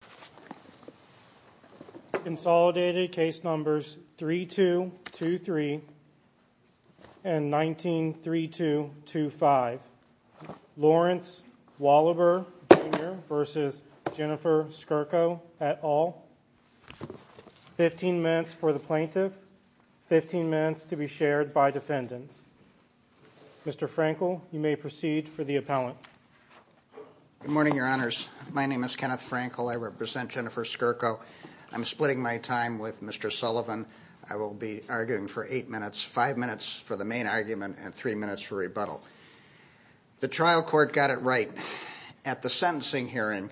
et al. 15 minutes for the plaintiff, 15 minutes to be shared by defendants. Mr. Frenkel, you may proceed for the appellant. Good morning, your honors. My name is Kenneth Frenkel. I represent Jennifer Skurko. I'm splitting my time with Mr. Sullivan. I will be arguing for 8 minutes, 5 minutes for the main argument and 3 minutes for rebuttal. The trial court got it right. At the sentencing hearing,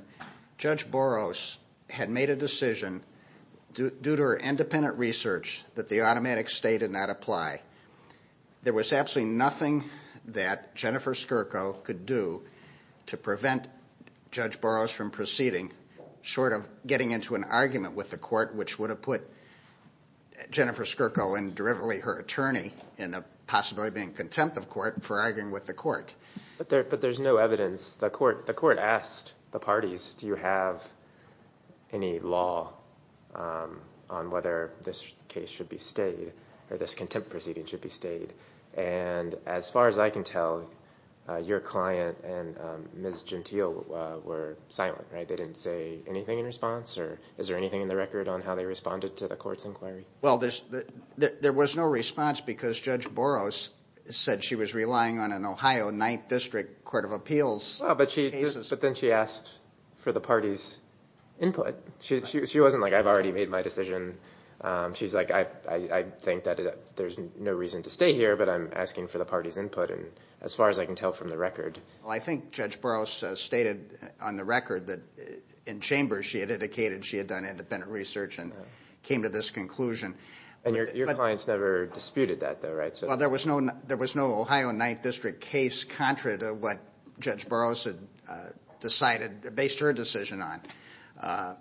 Judge Boros had made a decision due to her independent research that the automatic state did not apply. There was absolutely nothing that Jennifer Skurko could do to prevent Judge Boros from proceeding, short of getting into an argument with the court, which would have put Jennifer Skurko and, derivatively, her attorney in the possibility of being contempt of court for arguing with the court. But there's no evidence. The court asked the parties, do you have any law on whether this case should be stayed, or this contempt proceeding should be stayed? As far as I can tell, your client and Ms. Gentile were silent. They didn't say anything in response? Is there anything in the record on how they responded to the court's inquiry? Well, there was no response because Judge Boros said she was relying on an Ohio 9th District Court of Appeals. But then she asked for the party's input. She wasn't like, I've already made my decision. She's like, I think that there's no reason to stay here, but I'm asking for the party's input, as far as I can tell from the record. Well, I think Judge Boros stated on the record that in chambers she had indicated she had done independent research and came to this conclusion. And your clients never disputed that though, right? Well, there was no Ohio 9th District case contrary to what Judge Boros had decided, based her decision on.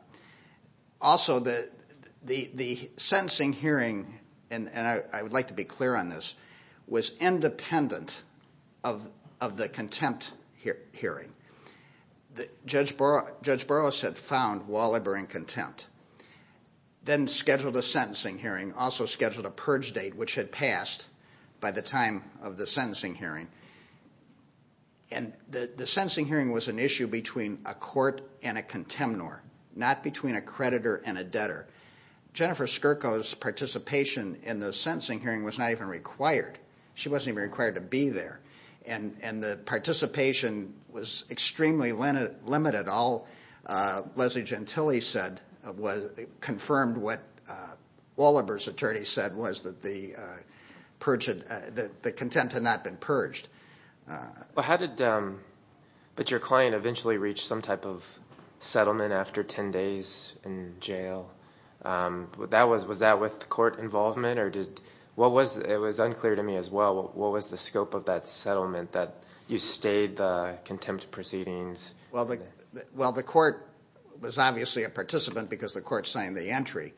Also, the sentencing hearing, and I would like to be clear on this, was independent of the contempt hearing. Judge Boros had found Waliber in contempt, then scheduled a sentencing hearing, also scheduled a purge date, which had passed by the time of the sentencing hearing. And the sentencing hearing was an issue between a court and a contemnor, not between a creditor and a debtor. Jennifer Skirko's participation in the sentencing hearing was not even required. She wasn't even required to be there. And the participation was extremely limited. All Leslie Gentile said confirmed what Waliber's attorney said was that the contempt had not been purged. But your client eventually reached some type of settlement after 10 days in jail. Was that with court involvement? It was unclear to me as well. What was the scope of that settlement, that you stayed the contempt proceedings? Well, the court was obviously a participant because the court signed the entry.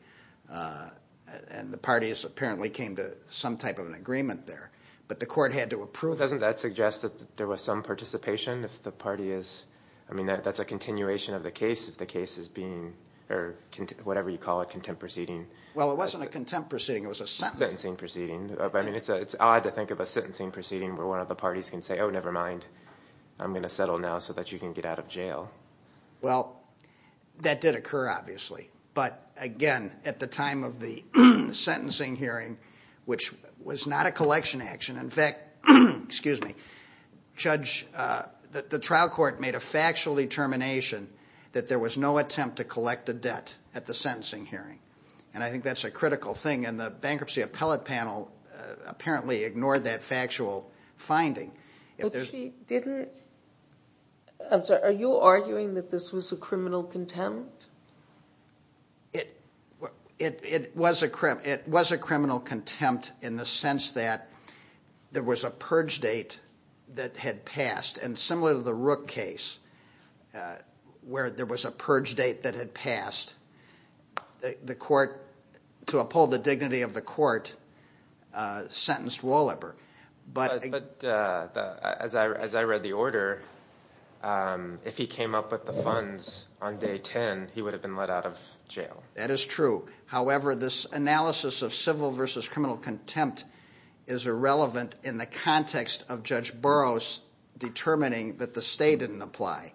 And the parties apparently came to some type of an agreement there. But the court had to approve it. Doesn't that suggest that there was some participation if the party is, I mean, that's a continuation of the case, if the case is being, or whatever you call a contempt proceeding. Well, it wasn't a contempt proceeding, it was a sentencing proceeding. I mean, it's odd to think of a sentencing proceeding where one of the parties can say, oh, never mind, I'm going to settle now so that you can get out of jail. Well, that did occur obviously. But again, at the time of the sentencing hearing, which was not a collection action, in fact, excuse me, the trial court made a factual determination that there was no attempt to collect the debt at the sentencing hearing. And I think that's a critical thing. And the bankruptcy appellate panel apparently ignored that factual finding. But she didn't, I'm sorry, are you arguing that this was a criminal contempt? It was a criminal contempt in the sense that there was a purge date that had passed. And similar to the Rook case, where there was a purge date that had passed, the But as I read the order, if he came up with the funds on day 10, he would have been let out of jail. That is true. However, this analysis of civil versus criminal contempt is irrelevant in the context of Judge Burroughs determining that the stay didn't apply.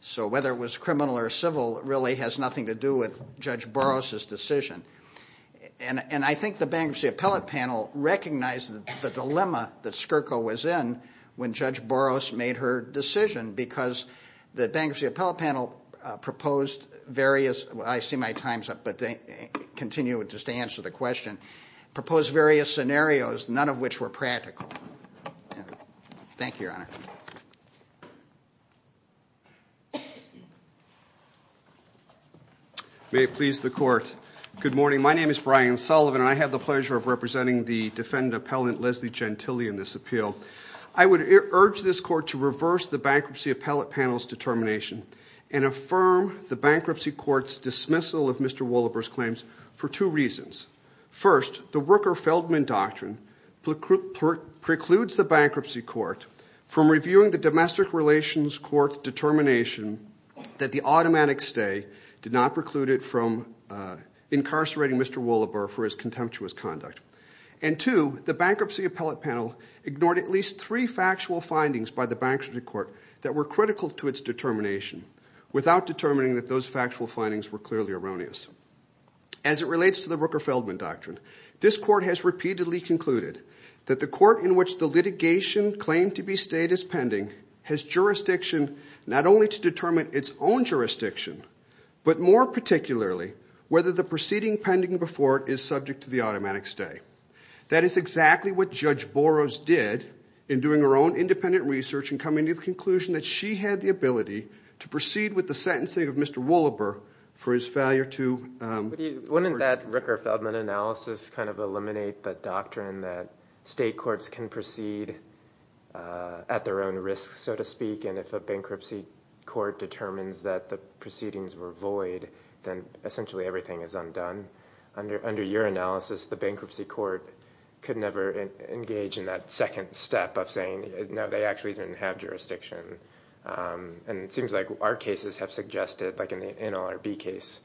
So whether it was criminal or civil really has nothing to do with Judge Burroughs' decision. And I think the bankruptcy appellate panel recognized the dilemma that Skirko was in when Judge Burroughs made her decision, because the bankruptcy appellate panel proposed various, I see my time's up, but continue just to answer the question, proposed various scenarios, none of which were practical. Thank you, Your Honor. May it please the Court. Good morning. My name is Brian Sullivan, and I have the pleasure of representing the defendant appellant, Leslie Gentile, in this appeal. I would urge this Court to reverse the bankruptcy appellate panel's determination and affirm the bankruptcy court's dismissal of Mr. Wollaber's claims for two reasons. First, the Worker-Feldman Doctrine precludes the bankruptcy court from reviewing the domestic relations court's determination that the automatic stay did not preclude it from incarcerating Mr. Wollaber for his contemptuous conduct. And two, the bankruptcy appellate panel ignored at least three factual findings by the bankruptcy court that were critical to its determination without determining that those factual findings were clearly erroneous. As it relates to the Worker-Feldman Doctrine, this Court has repeatedly concluded that the court in which the litigation claimed to be stayed as pending has jurisdiction not only to determine its own jurisdiction, but more particularly whether the proceeding pending before it is subject to the automatic stay. That is exactly what Judge Boros did in doing her own independent research and coming to the conclusion that she had the ability to proceed with the sentencing of Mr. Wollaber for his failure to... Wouldn't that Rooker-Feldman analysis kind of eliminate the doctrine that state courts can proceed at their own risk, so to speak, and if a bankruptcy court determines that the proceedings were void, then essentially everything is undone? Under your analysis, the bankruptcy court could never engage in that second step of saying, no, they actually didn't have jurisdiction. It seems like our cases have suggested, like in the NLRB case,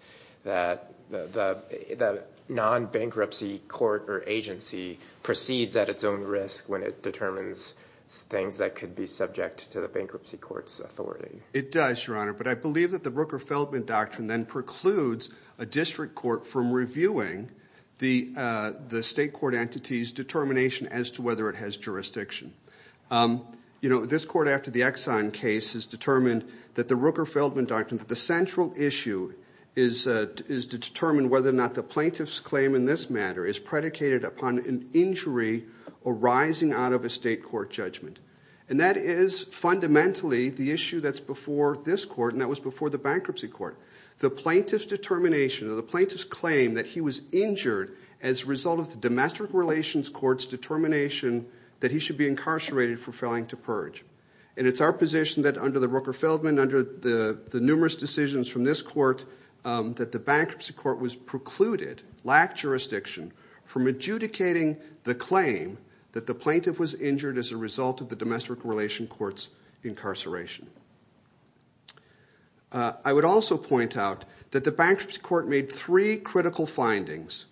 that the non-bankruptcy court or agency proceeds at its own risk when it determines things that could be subject to the bankruptcy court's authority. It does, Your Honor, but I believe that the Rooker-Feldman Doctrine then precludes a district court from reviewing the state court entity's determination as to whether it has jurisdiction. You know, this court after the Exxon case has determined that the Rooker-Feldman Doctrine, the central issue, is to determine whether or not the plaintiff's claim in this matter is predicated upon an injury arising out of a state court judgment. And that is fundamentally the issue that's before this court, and that was before the bankruptcy court. The plaintiff's determination or the plaintiff's claim that he was injured as a result of the domestic relations court's determination that he should be incarcerated for failing to purge. And it's our position that under the Rooker-Feldman, under the numerous decisions from this court, that the bankruptcy court was precluded, lacked jurisdiction, from adjudicating the claim that the plaintiff was injured as a result of the domestic relations court's incarceration. I would also point out that the bankruptcy court made three critical findings,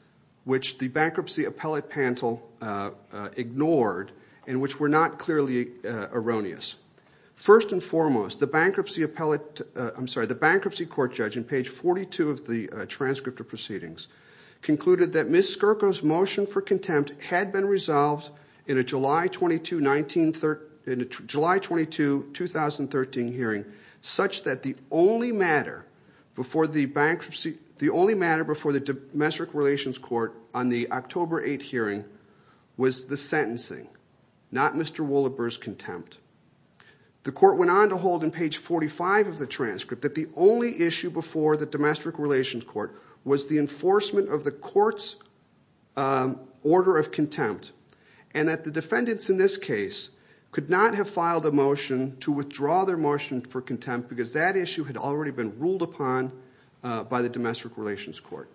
which the bankruptcy appellate panel ignored, and which were not clearly erroneous. First and foremost, the bankruptcy court judge in page 42 of the transcript of proceedings concluded that Ms. Skirko's motion for contempt had been resolved in a July 22, 2013 hearing, such that the only matter before the domestic relations court on the October 8 hearing was the sentencing, not Mr. Wolleber's contempt. The court went on to hold in page 45 of the transcript that the only issue before the domestic relations court was the enforcement of the court's order of contempt, and that the defendants in this case could not have the motion, to withdraw their motion for contempt, because that issue had already been ruled upon by the domestic relations court.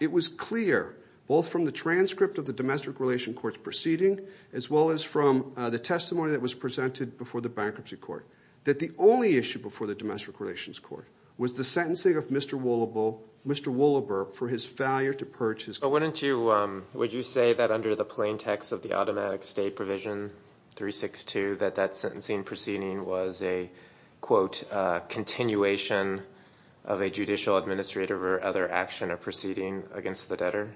It was clear, both from the transcript of the domestic relations court's proceeding, as well as from the testimony that was presented before the bankruptcy court, that the only issue before the domestic relations court was the sentencing of Mr. Wolleber for his failure to purge his... But wouldn't you, would you say that under the plain text of the automatic state provision 362, that that sentencing proceeding was a, quote, continuation of a judicial administrative or other action or proceeding against the debtor?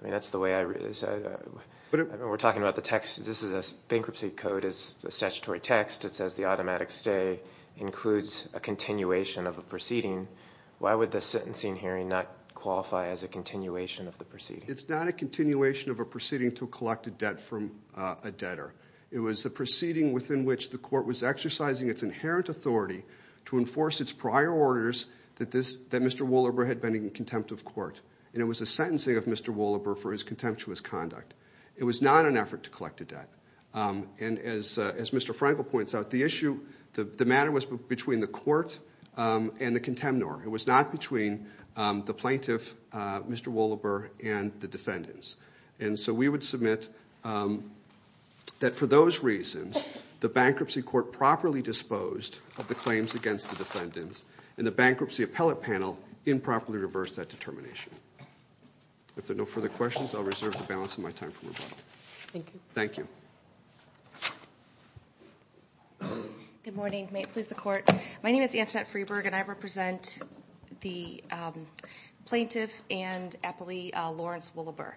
I mean, that's the way I... We're talking about the text, this is a bankruptcy code, it's a statutory text, it says the automatic state includes a continuation of a proceeding. Why would the sentencing hearing not qualify as a continuation of the proceeding? It's not a continuation of a proceeding to collect a debt from a debtor. It was a proceeding within which the court was exercising its inherent authority to enforce its prior orders that this, that Mr. Wolleber had been in contempt of court. And it was a sentencing of Mr. Wolleber for his contemptuous conduct. It was not an effort to collect a debt. And as Mr. Frankel points out, the issue, the matter was between the court and the contemnor. It was not between the plaintiff, Mr. Wolleber, and the defendants. And so we would submit that for those reasons, the bankruptcy court properly disposed of the claims against the defendants, and the bankruptcy appellate panel improperly reversed that determination. If there are no further questions, I'll reserve the balance of my time for rebuttal. Thank you. Good morning. May it please the court. My name is Antoinette Freeberg, and I represent the plaintiff and appellee Lawrence Wolleber.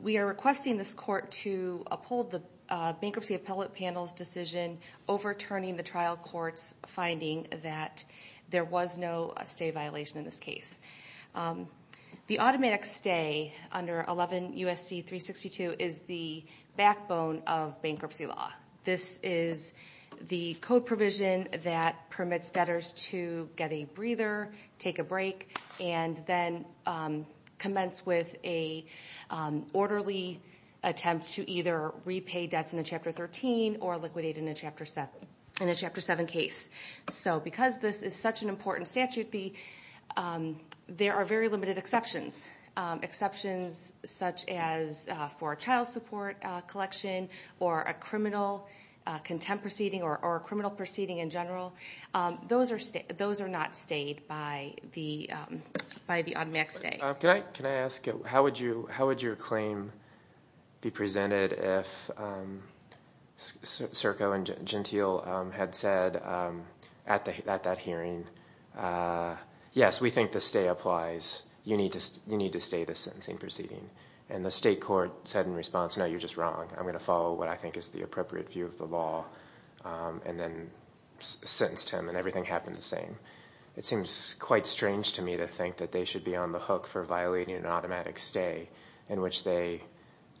We are requesting this court to uphold the bankruptcy appellate panel's decision overturning the trial court's finding that there was no stay violation in this case. The automatic stay under 11 U.S.C. 362 is the state's backbone of bankruptcy law. This is the code provision that permits debtors to get a breather, take a break, and then commence with an orderly attempt to either repay debts in a Chapter 13 or liquidate in a Chapter 7 case. So because this is such an important statute, there are very limited exceptions. Exceptions such as for a child support collection or a criminal contempt proceeding or a criminal proceeding in general, those are not stayed by the automatic stay. Can I ask, how would your claim be presented if Serco and Gentile had said at that hearing, yes, we think the stay applies, you need to stay the sentencing proceeding? And the state court said in response, no, you're just wrong. I'm going to follow what I think is the appropriate view of the law, and then sentenced him, and everything happened the same. It seems quite strange to me to think that they should be on the hook for violating an automatic stay in which they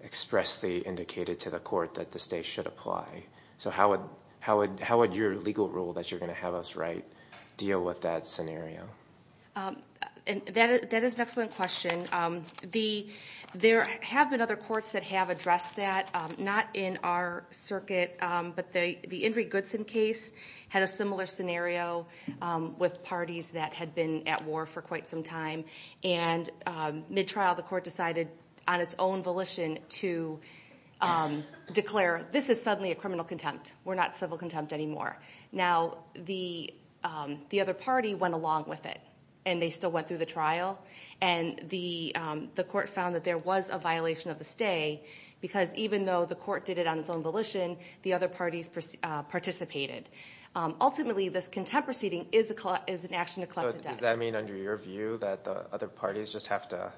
expressly indicated to the court that the stay should apply. So how would your legal rule that you're going to have us write deal with that scenario? That is an excellent question. There have been other courts that have addressed that. Not in our circuit, but the Ingrid Goodson case had a similar scenario with parties that had been at war for quite some time. And mid-trial, the court decided on its own volition to declare, this is suddenly a criminal contempt. We're not civil contempt anymore. Now, the other party went along with it, and they still went through the trial. And the court found that there was a violation of the stay, because even though the court did it on its own volition, the other parties participated. Ultimately, this contempt proceeding is an action to collect the debt. Does that mean, under your view, that the other parties just have to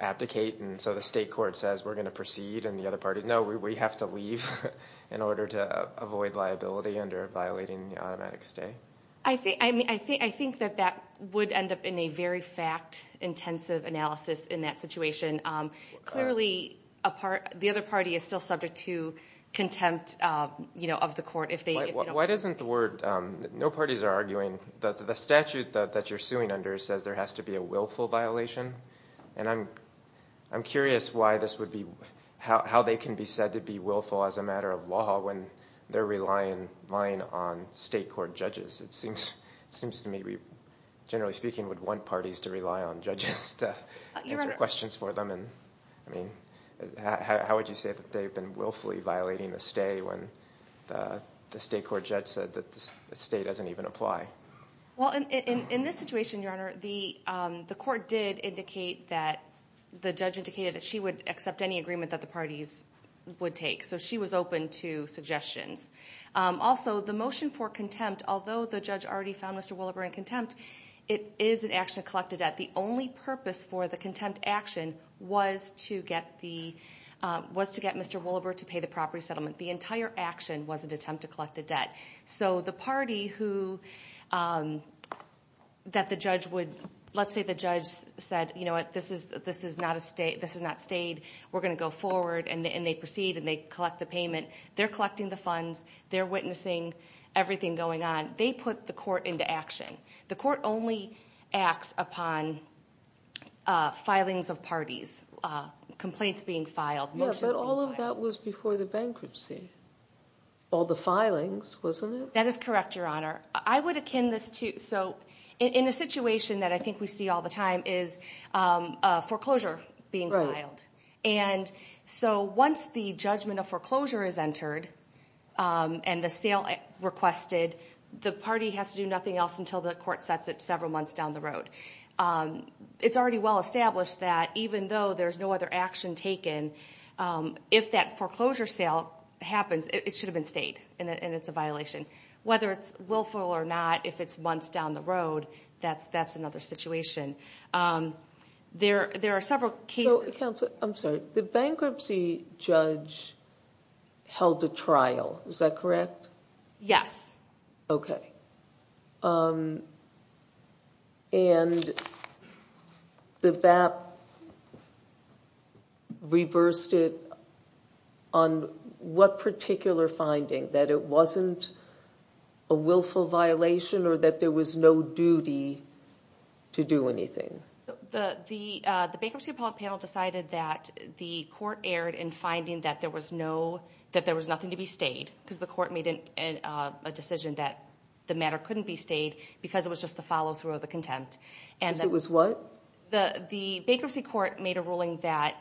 abdicate, and so the state court says, we're going to proceed, and the other parties, no, we have to leave in order to avoid liability under violating the automatic stay? I think that that would end up in a very fact-intensive analysis in that situation. Clearly, the other party is still subject to contempt of the court if they don't... Why doesn't the word, no parties are arguing, the statute that you're suing under says there are no parties. I'm curious how they can be said to be willful as a matter of law when they're relying on state court judges. It seems to me, generally speaking, we'd want parties to rely on judges to answer questions for them. How would you say that they've been willfully violating the stay when the state court judge said that the stay doesn't even apply? In this situation, Your Honor, the court did indicate that the judge indicated that she would accept any agreement that the parties would take, so she was open to suggestions. Also, the motion for contempt, although the judge already found Mr. Willeber in contempt, it is an action to collect the debt. The only purpose for the contempt action was to get Mr. Willeber to pay the property settlement. The entire action was an attempt to collect the debt. The party that the judge would... Let's say the judge said, you know what, this is not stayed. We're going to go forward, and they proceed, and they collect the payment. They're collecting the funds. They're witnessing everything going on. They put the court into action. The court only acts upon filings of parties, complaints being filed, motions being filed. That is correct, Your Honor. I would akin this to... In a situation that I think we see all the time is foreclosure being filed. Once the judgment of foreclosure is entered and the sale requested, the party has to do nothing else until the court sets it several months down the road. It's already well established that even though there's no other action taken, if that foreclosure sale happens, it should have been stayed, and it's a violation. Whether it's willful or not, if it's months down the road, that's another situation. There are several cases... Counsel, I'm sorry. The bankruptcy judge held a trial. Is that correct? Yes. Okay. The BAP reversed it on what particular finding, that it wasn't a willful violation or that there was no duty to do anything? The bankruptcy panel decided that the court erred in finding that there was nothing to be stayed because the court made a decision that the matter couldn't be stayed because it was just the follow-through of the contempt. Because it was what? The bankruptcy court made a ruling that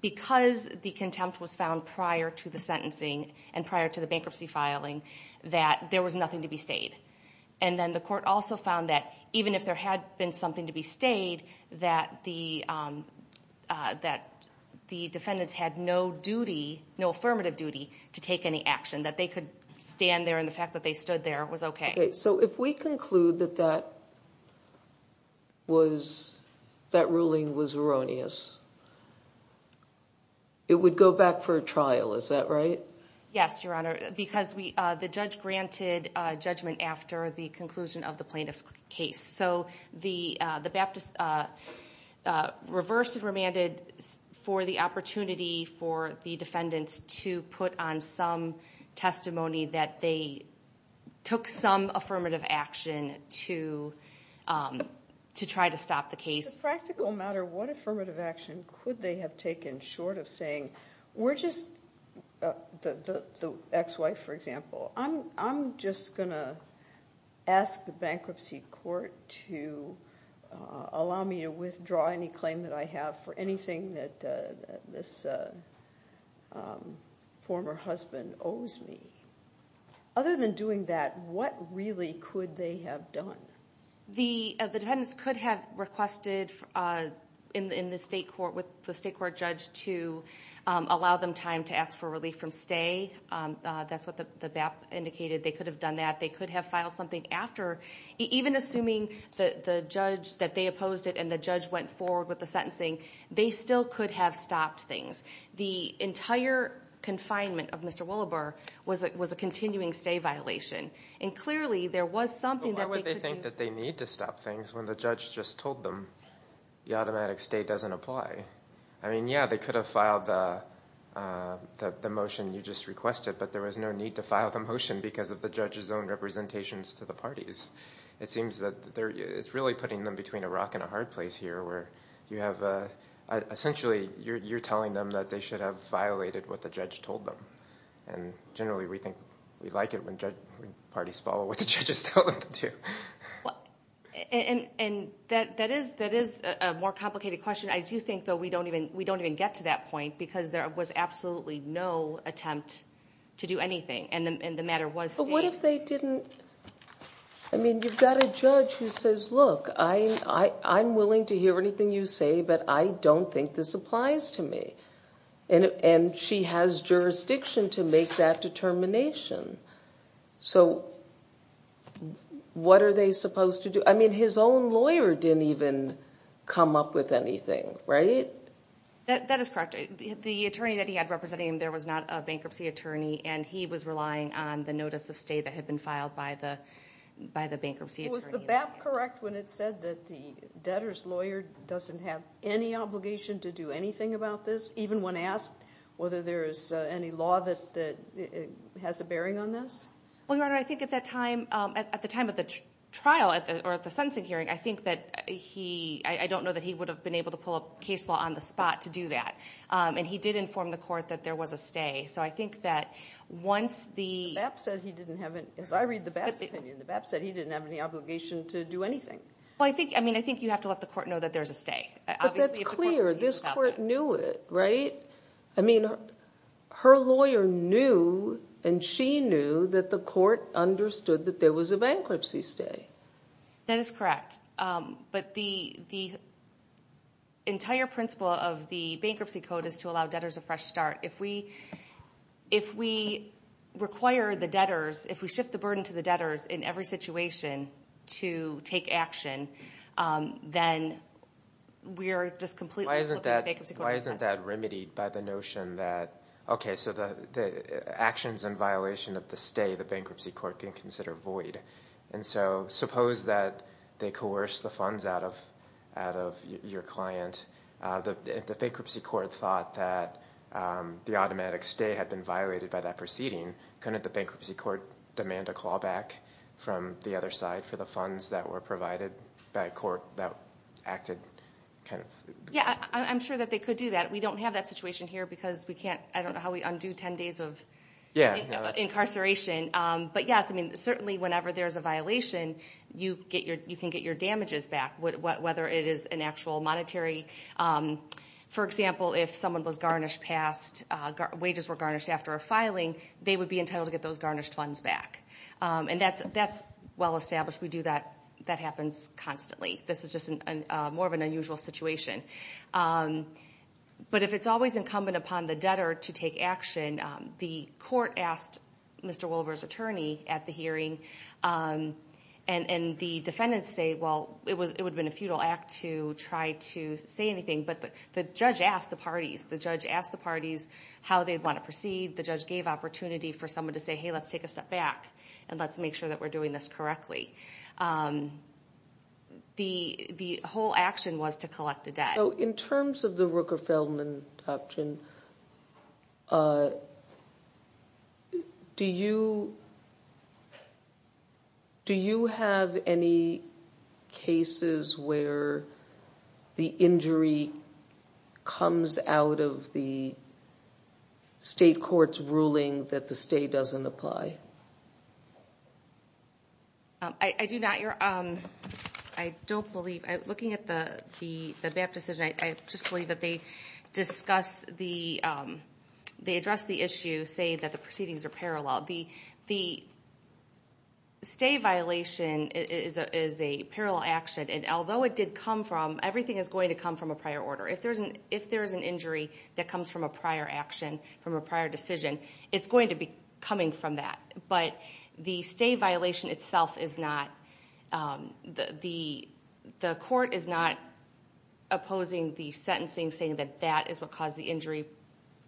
because the contempt was found prior to the sentencing and prior to the bankruptcy filing, that there was nothing to be stayed. Then the court also found that even if there had been something to be stayed, that the defendants had no duty, no affirmative duty, to take any action. That they could stand there and the fact that they stood there was okay. So if we conclude that that ruling was erroneous, it would go back for a trial. Is that right? Yes, Your Honor, because the judge granted judgment after the conclusion of the plaintiff's case. So the BAP reversed and remanded for the opportunity for the defendant to have to put on some testimony that they took some affirmative action to try to stop the case. As a practical matter, what affirmative action could they have taken short of saying, we're just the ex-wife, for example, I'm just going to ask the bankruptcy court to allow me to do what my former husband owes me? Other than doing that, what really could they have done? The defendants could have requested in the state court with the state court judge to allow them time to ask for relief from stay. That's what the BAP indicated. They could have done that. They could have filed something after. Even assuming that the judge that they opposed it and the judge went forward with the sentencing, they still could have stopped things. The entire confinement of Mr. Willebur was a continuing stay violation. And clearly there was something that they could do. But why would they think that they need to stop things when the judge just told them the automatic stay doesn't apply? I mean, yeah, they could have filed the motion you just requested, but there was no need to file the motion because of the judge's own representations to the parties. It seems that it's really putting them between a rock and a hard place here where you have, essentially, you're telling them that they should have violated what the judge told them. And generally we think we like it when judge parties follow what the judge is telling them to do. And that is a more complicated question. I do think, though, we don't even get to that point because there was absolutely no attempt to do anything. And the matter was stayed. What if they didn't... I mean, you've got a judge who says, look, I'm willing to hear anything you say, but I don't think this applies to me. And she has jurisdiction to make that determination. So what are they supposed to do? I mean, his own lawyer didn't even come up with anything, right? That is correct. The attorney that he had representing him, there was not a bankruptcy attorney. And he was relying on the notice of stay that had been filed by the bankruptcy attorney. Was the BAP correct when it said that the debtor's lawyer doesn't have any obligation to do anything about this, even when asked whether there is any law that has a bearing on this? Well, Your Honor, I think at the time of the trial or at the sentencing hearing, I think that he... I don't know that he would have been able to pull a case law on the spot to say that he did inform the court that there was a stay. So I think that once the... BAP said he didn't have any... as I read the BAP's opinion, the BAP said he didn't have any obligation to do anything. Well, I think... I mean, I think you have to let the court know that there's a stay. Obviously, if the court... But that's clear. This court knew it, right? I mean, her lawyer knew and she knew that the court understood that there was a bankruptcy stay. That is correct. But the entire principle of the Bankruptcy Code is to allow debtors a fresh start. If we require the debtors, if we shift the burden to the debtors in every situation to take action, then we are just completely flipping the Bankruptcy Code. Why isn't that remedied by the notion that, okay, so the actions in violation of the stay, the Bankruptcy Court can consider void. And so, suppose that they coerced the funds out of your client. If the Bankruptcy Court thought that the automatic stay had been violated by that proceeding, couldn't the Bankruptcy Court demand a callback from the other side for the funds that were provided by a court that acted... Yeah, I'm sure that they could do that. We don't have that situation here because we undo 10 days of incarceration. But yes, I mean, certainly whenever there's a violation, you can get your damages back, whether it is an actual monetary. For example, if someone was garnished past, wages were garnished after a filing, they would be entitled to get those garnished funds back. And that's well established. We do that. That happens constantly. This is just more of an unusual situation. But if it's always incumbent upon the debtor to take action, the court asked Mr. Wilber's attorney at the hearing, and the defendants say, well, it would have been a futile act to try to say anything. But the judge asked the parties. The judge asked the parties how they'd want to proceed. The judge gave opportunity for someone to say, hey, let's take a step back and let's make sure that we're doing this correctly. The whole action was to collect the debt. In terms of the Rooker-Feldman option, do you have any cases where the injury comes out of the state court's ruling that the stay doesn't apply? I do not. I don't believe. Looking at the BAP decision, I just believe that they address the issue, say that the proceedings are parallel. The stay violation is a parallel action. And although it did come from, everything is going to come from a prior order. If there's an injury, it's going to come from a prior order. But the stay violation itself is not, the court is not opposing the sentencing, saying that that is what caused the injury,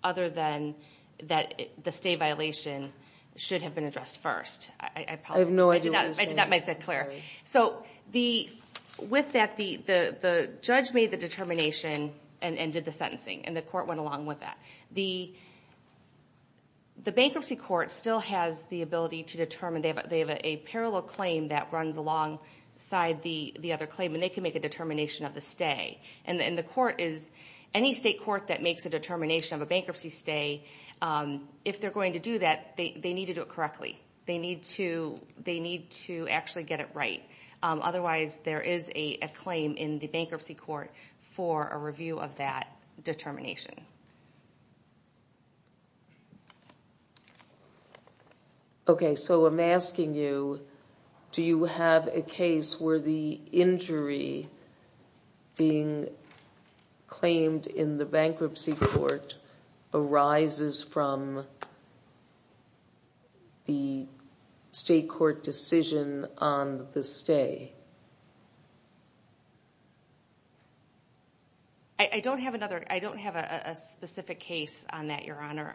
other than that the stay violation should have been addressed first. I did not make that clear. So with that, the judge made the determination and did the sentencing, and the court went with the ability to determine. They have a parallel claim that runs alongside the other claim, and they can make a determination of the stay. And the court is, any state court that makes a determination of a bankruptcy stay, if they're going to do that, they need to do it correctly. They need to actually get it right. Otherwise, there is a claim in the bankruptcy court for a review of that determination. So I'm asking you, do you have a case where the injury being claimed in the bankruptcy court arises from the state court decision on the stay? I don't have another, I don't have a specific case on that, Your Honor.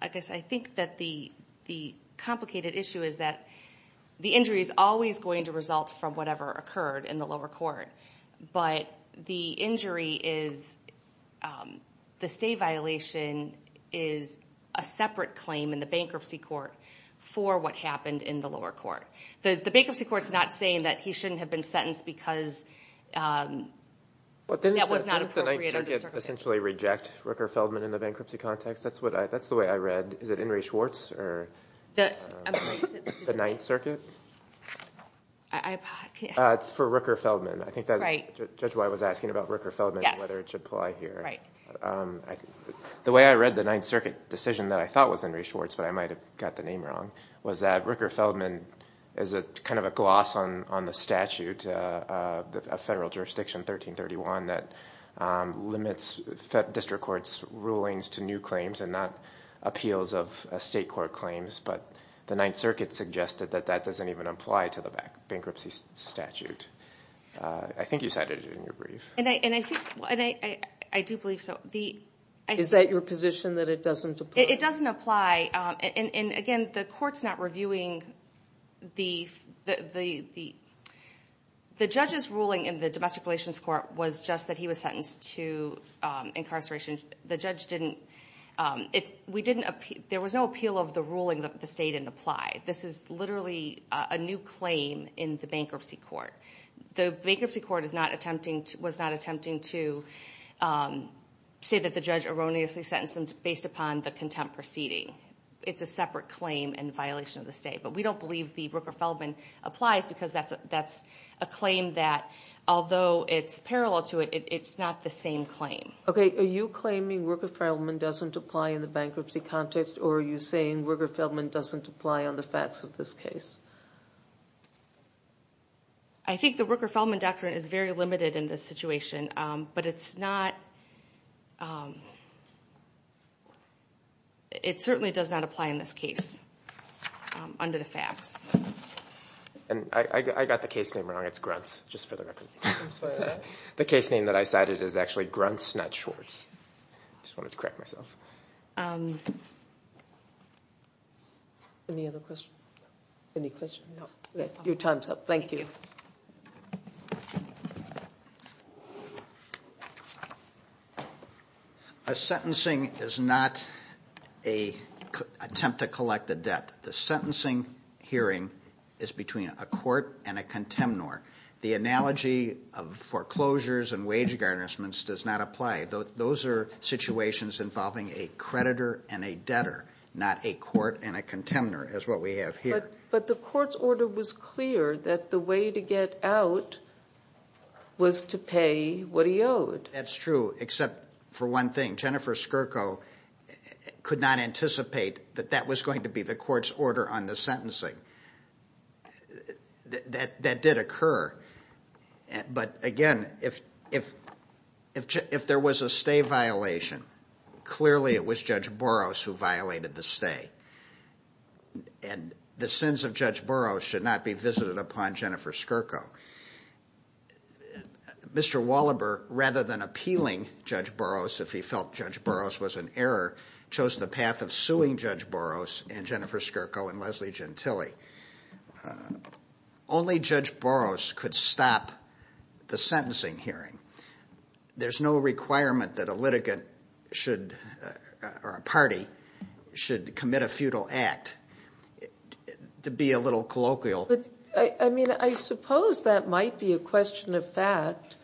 I guess I think that the complicated issue is that the injury is always going to result from whatever occurred in the lower court. But the injury is, the stay violation is a separate claim in the bankruptcy court for what happened in the lower court. The bankruptcy court is not saying that he shouldn't have been sentenced because that was not appropriate under circuit. Didn't the Ninth Circuit essentially reject Rooker-Feldman in the bankruptcy context? That's the way I read. Is it Henry Schwartz or the Ninth Circuit? It's for Rooker-Feldman. I think that's why I was asking about Rooker-Feldman, whether it should apply here. The way I read the Ninth Circuit decision that I thought was Henry Schwartz, but I might have got the name wrong, was that Rooker-Feldman is kind of a gloss on the statute of federal jurisdiction 1331 that limits district court's rulings to new claims and not appeals of state court claims. But the Ninth Circuit suggested that that doesn't even apply to the bankruptcy statute. I think you cited it in your brief. I do believe so. Is that your position that it doesn't apply? It doesn't apply. And again, the court's not reviewing the... The judge's ruling in the domestic relations court was just that he was sentenced to incarceration. The judge didn't... We didn't... There was no appeal of the ruling that the state didn't apply. This is literally a new claim in the bankruptcy court. The bankruptcy court is not attempting to... Was not attempting to say that the judge erroneously sentenced him based upon the contempt proceeding. It's a separate claim and violation of the state. But we don't believe the Rooker-Feldman applies because that's a claim that, although it's parallel to it, it's not the same claim. Okay. Are you claiming Rooker-Feldman doesn't apply in the bankruptcy context or are you saying Rooker-Feldman doesn't apply on the facts of this case? I think the Rooker-Feldman doctrine is very limited in this situation, but it's not... It certainly does not apply in this case under the facts. And I got the case name wrong. It's Gruntz, just for the record. The case name that I cited is actually Gruntz, not Schwartz. I just wanted to correct myself. Any other questions? Any questions? No. Your time's up. Thank you. A sentencing is not an attempt to collect a debt. The sentencing hearing is between a court and a contemnor. The analogy of foreclosures and wage garnishments does not apply. Those are situations involving a creditor and a debtor, not a court and a contemnor, as what we have here. But the court's order was clear that the way to get out was to pay what he owed. That's true, except for one thing. Jennifer Skirko could not anticipate that that was going to be the court's order on the sentencing. That did occur. But again, if there was a sentencing hearing, it would be a court order on the part of Judge Boros who violated the stay. And the sins of Judge Boros should not be visited upon Jennifer Skirko. Mr. Wallaber, rather than appealing Judge Boros if he felt Judge Boros was in error, chose the path of suing Judge Boros and Jennifer Skirko and Leslie Gentile. Only Judge Boros could stop the sentencing hearing. There's no requirement that a litigant should or a party should commit a futile act. To be a little colloquial. I mean, I suppose that might be a question of fact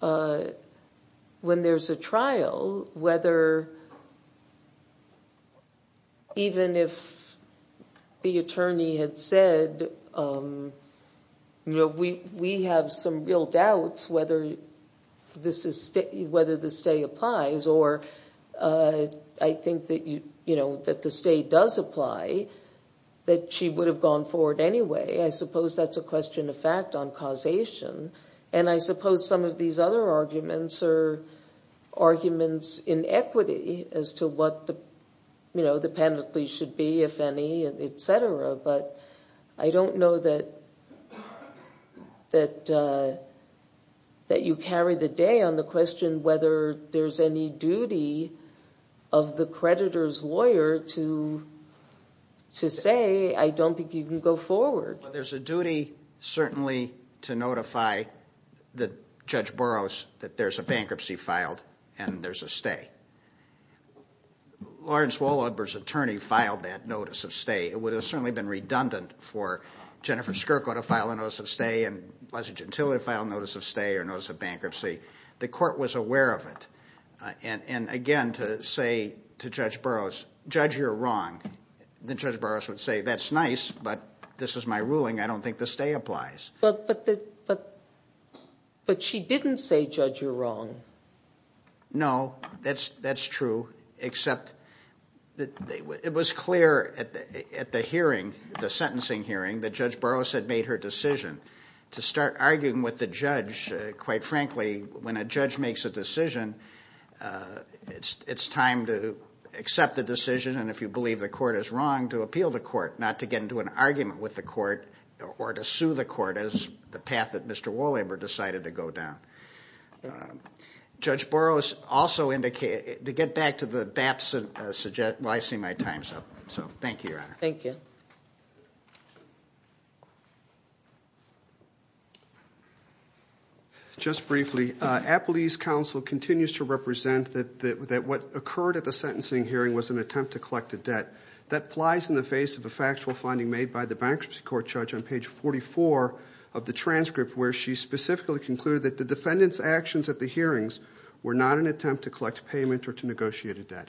when there's a trial, whether even if the attorney had said, you know, we have some real doubts whether the stay applies or I think that the stay does apply, that she would have gone forward anyway. I suppose that's a question of fact on causation. And I suppose some of these other arguments are to be, if any, et cetera. But I don't know that you carry the day on the question whether there's any duty of the creditor's lawyer to say, I don't think you can go forward. There's a duty certainly to notify Judge Boros that there's a bankruptcy filed and there's a stay. Lawrence Waldenberg's attorney filed that notice of stay. It would have certainly been redundant for Jennifer Skirko to file a notice of stay and Leslie Gentile to file notice of stay or notice of bankruptcy. The court was aware of it. And again, to say to Judge Boros, Judge, you're wrong. Then Judge Boros would say, that's nice, but this is my ruling. I don't think the stay applies. But she didn't say, Judge, you're wrong. No, that's true, except it was clear at the hearing, the sentencing hearing, that Judge Boros had made her decision to start arguing with the judge. Quite frankly, when a judge makes a decision, it's time to accept the decision. And if you believe the court is the path that Mr. Waldenberg decided to go down. Judge Boros also indicated, to get back to the BAPS, well, I see my time's up. So, thank you, Your Honor. Thank you. Just briefly, Appellee's Counsel continues to represent that what occurred at the sentencing hearing was an attempt to collect a debt. That applies in the face of a factual finding made by the Bankruptcy Court Judge on page 44 of the transcript, where she specifically concluded that the defendant's actions at the hearings were not an attempt to collect payment or to negotiate a debt.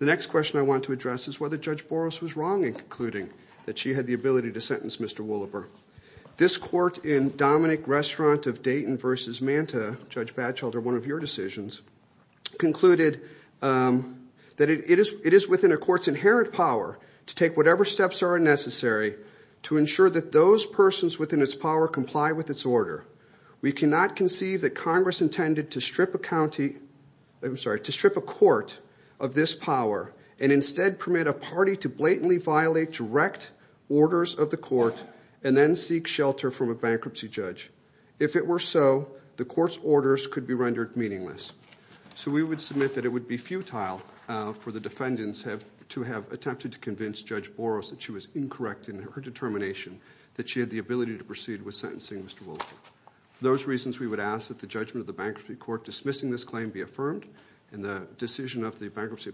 The next question I want to address is whether Judge Boros was wrong in concluding that she had the ability to sentence Mr. Woloper. This court in Dominic Restaurant of Dayton v. Manta, Judge Batchelder, one of your decisions, concluded that it is within a court's inherent power to take whatever steps are necessary to ensure that those persons within its power comply with its order. We cannot conceive that Congress intended to strip a county, I'm sorry, to strip a court of this power and instead permit a party to blatantly violate direct orders of the court and then seek shelter from a bankruptcy judge. If it were so, the court's orders could be rendered meaningless. So we would submit that it would be futile for the defendants to have attempted to convince Judge Boros that she was incorrect in her determination that she had the ability to proceed with sentencing Mr. Woloper. For those reasons, we would ask that the judgment of the Bankruptcy Court dismissing this claim be affirmed and the decision of the Bankruptcy Thank you.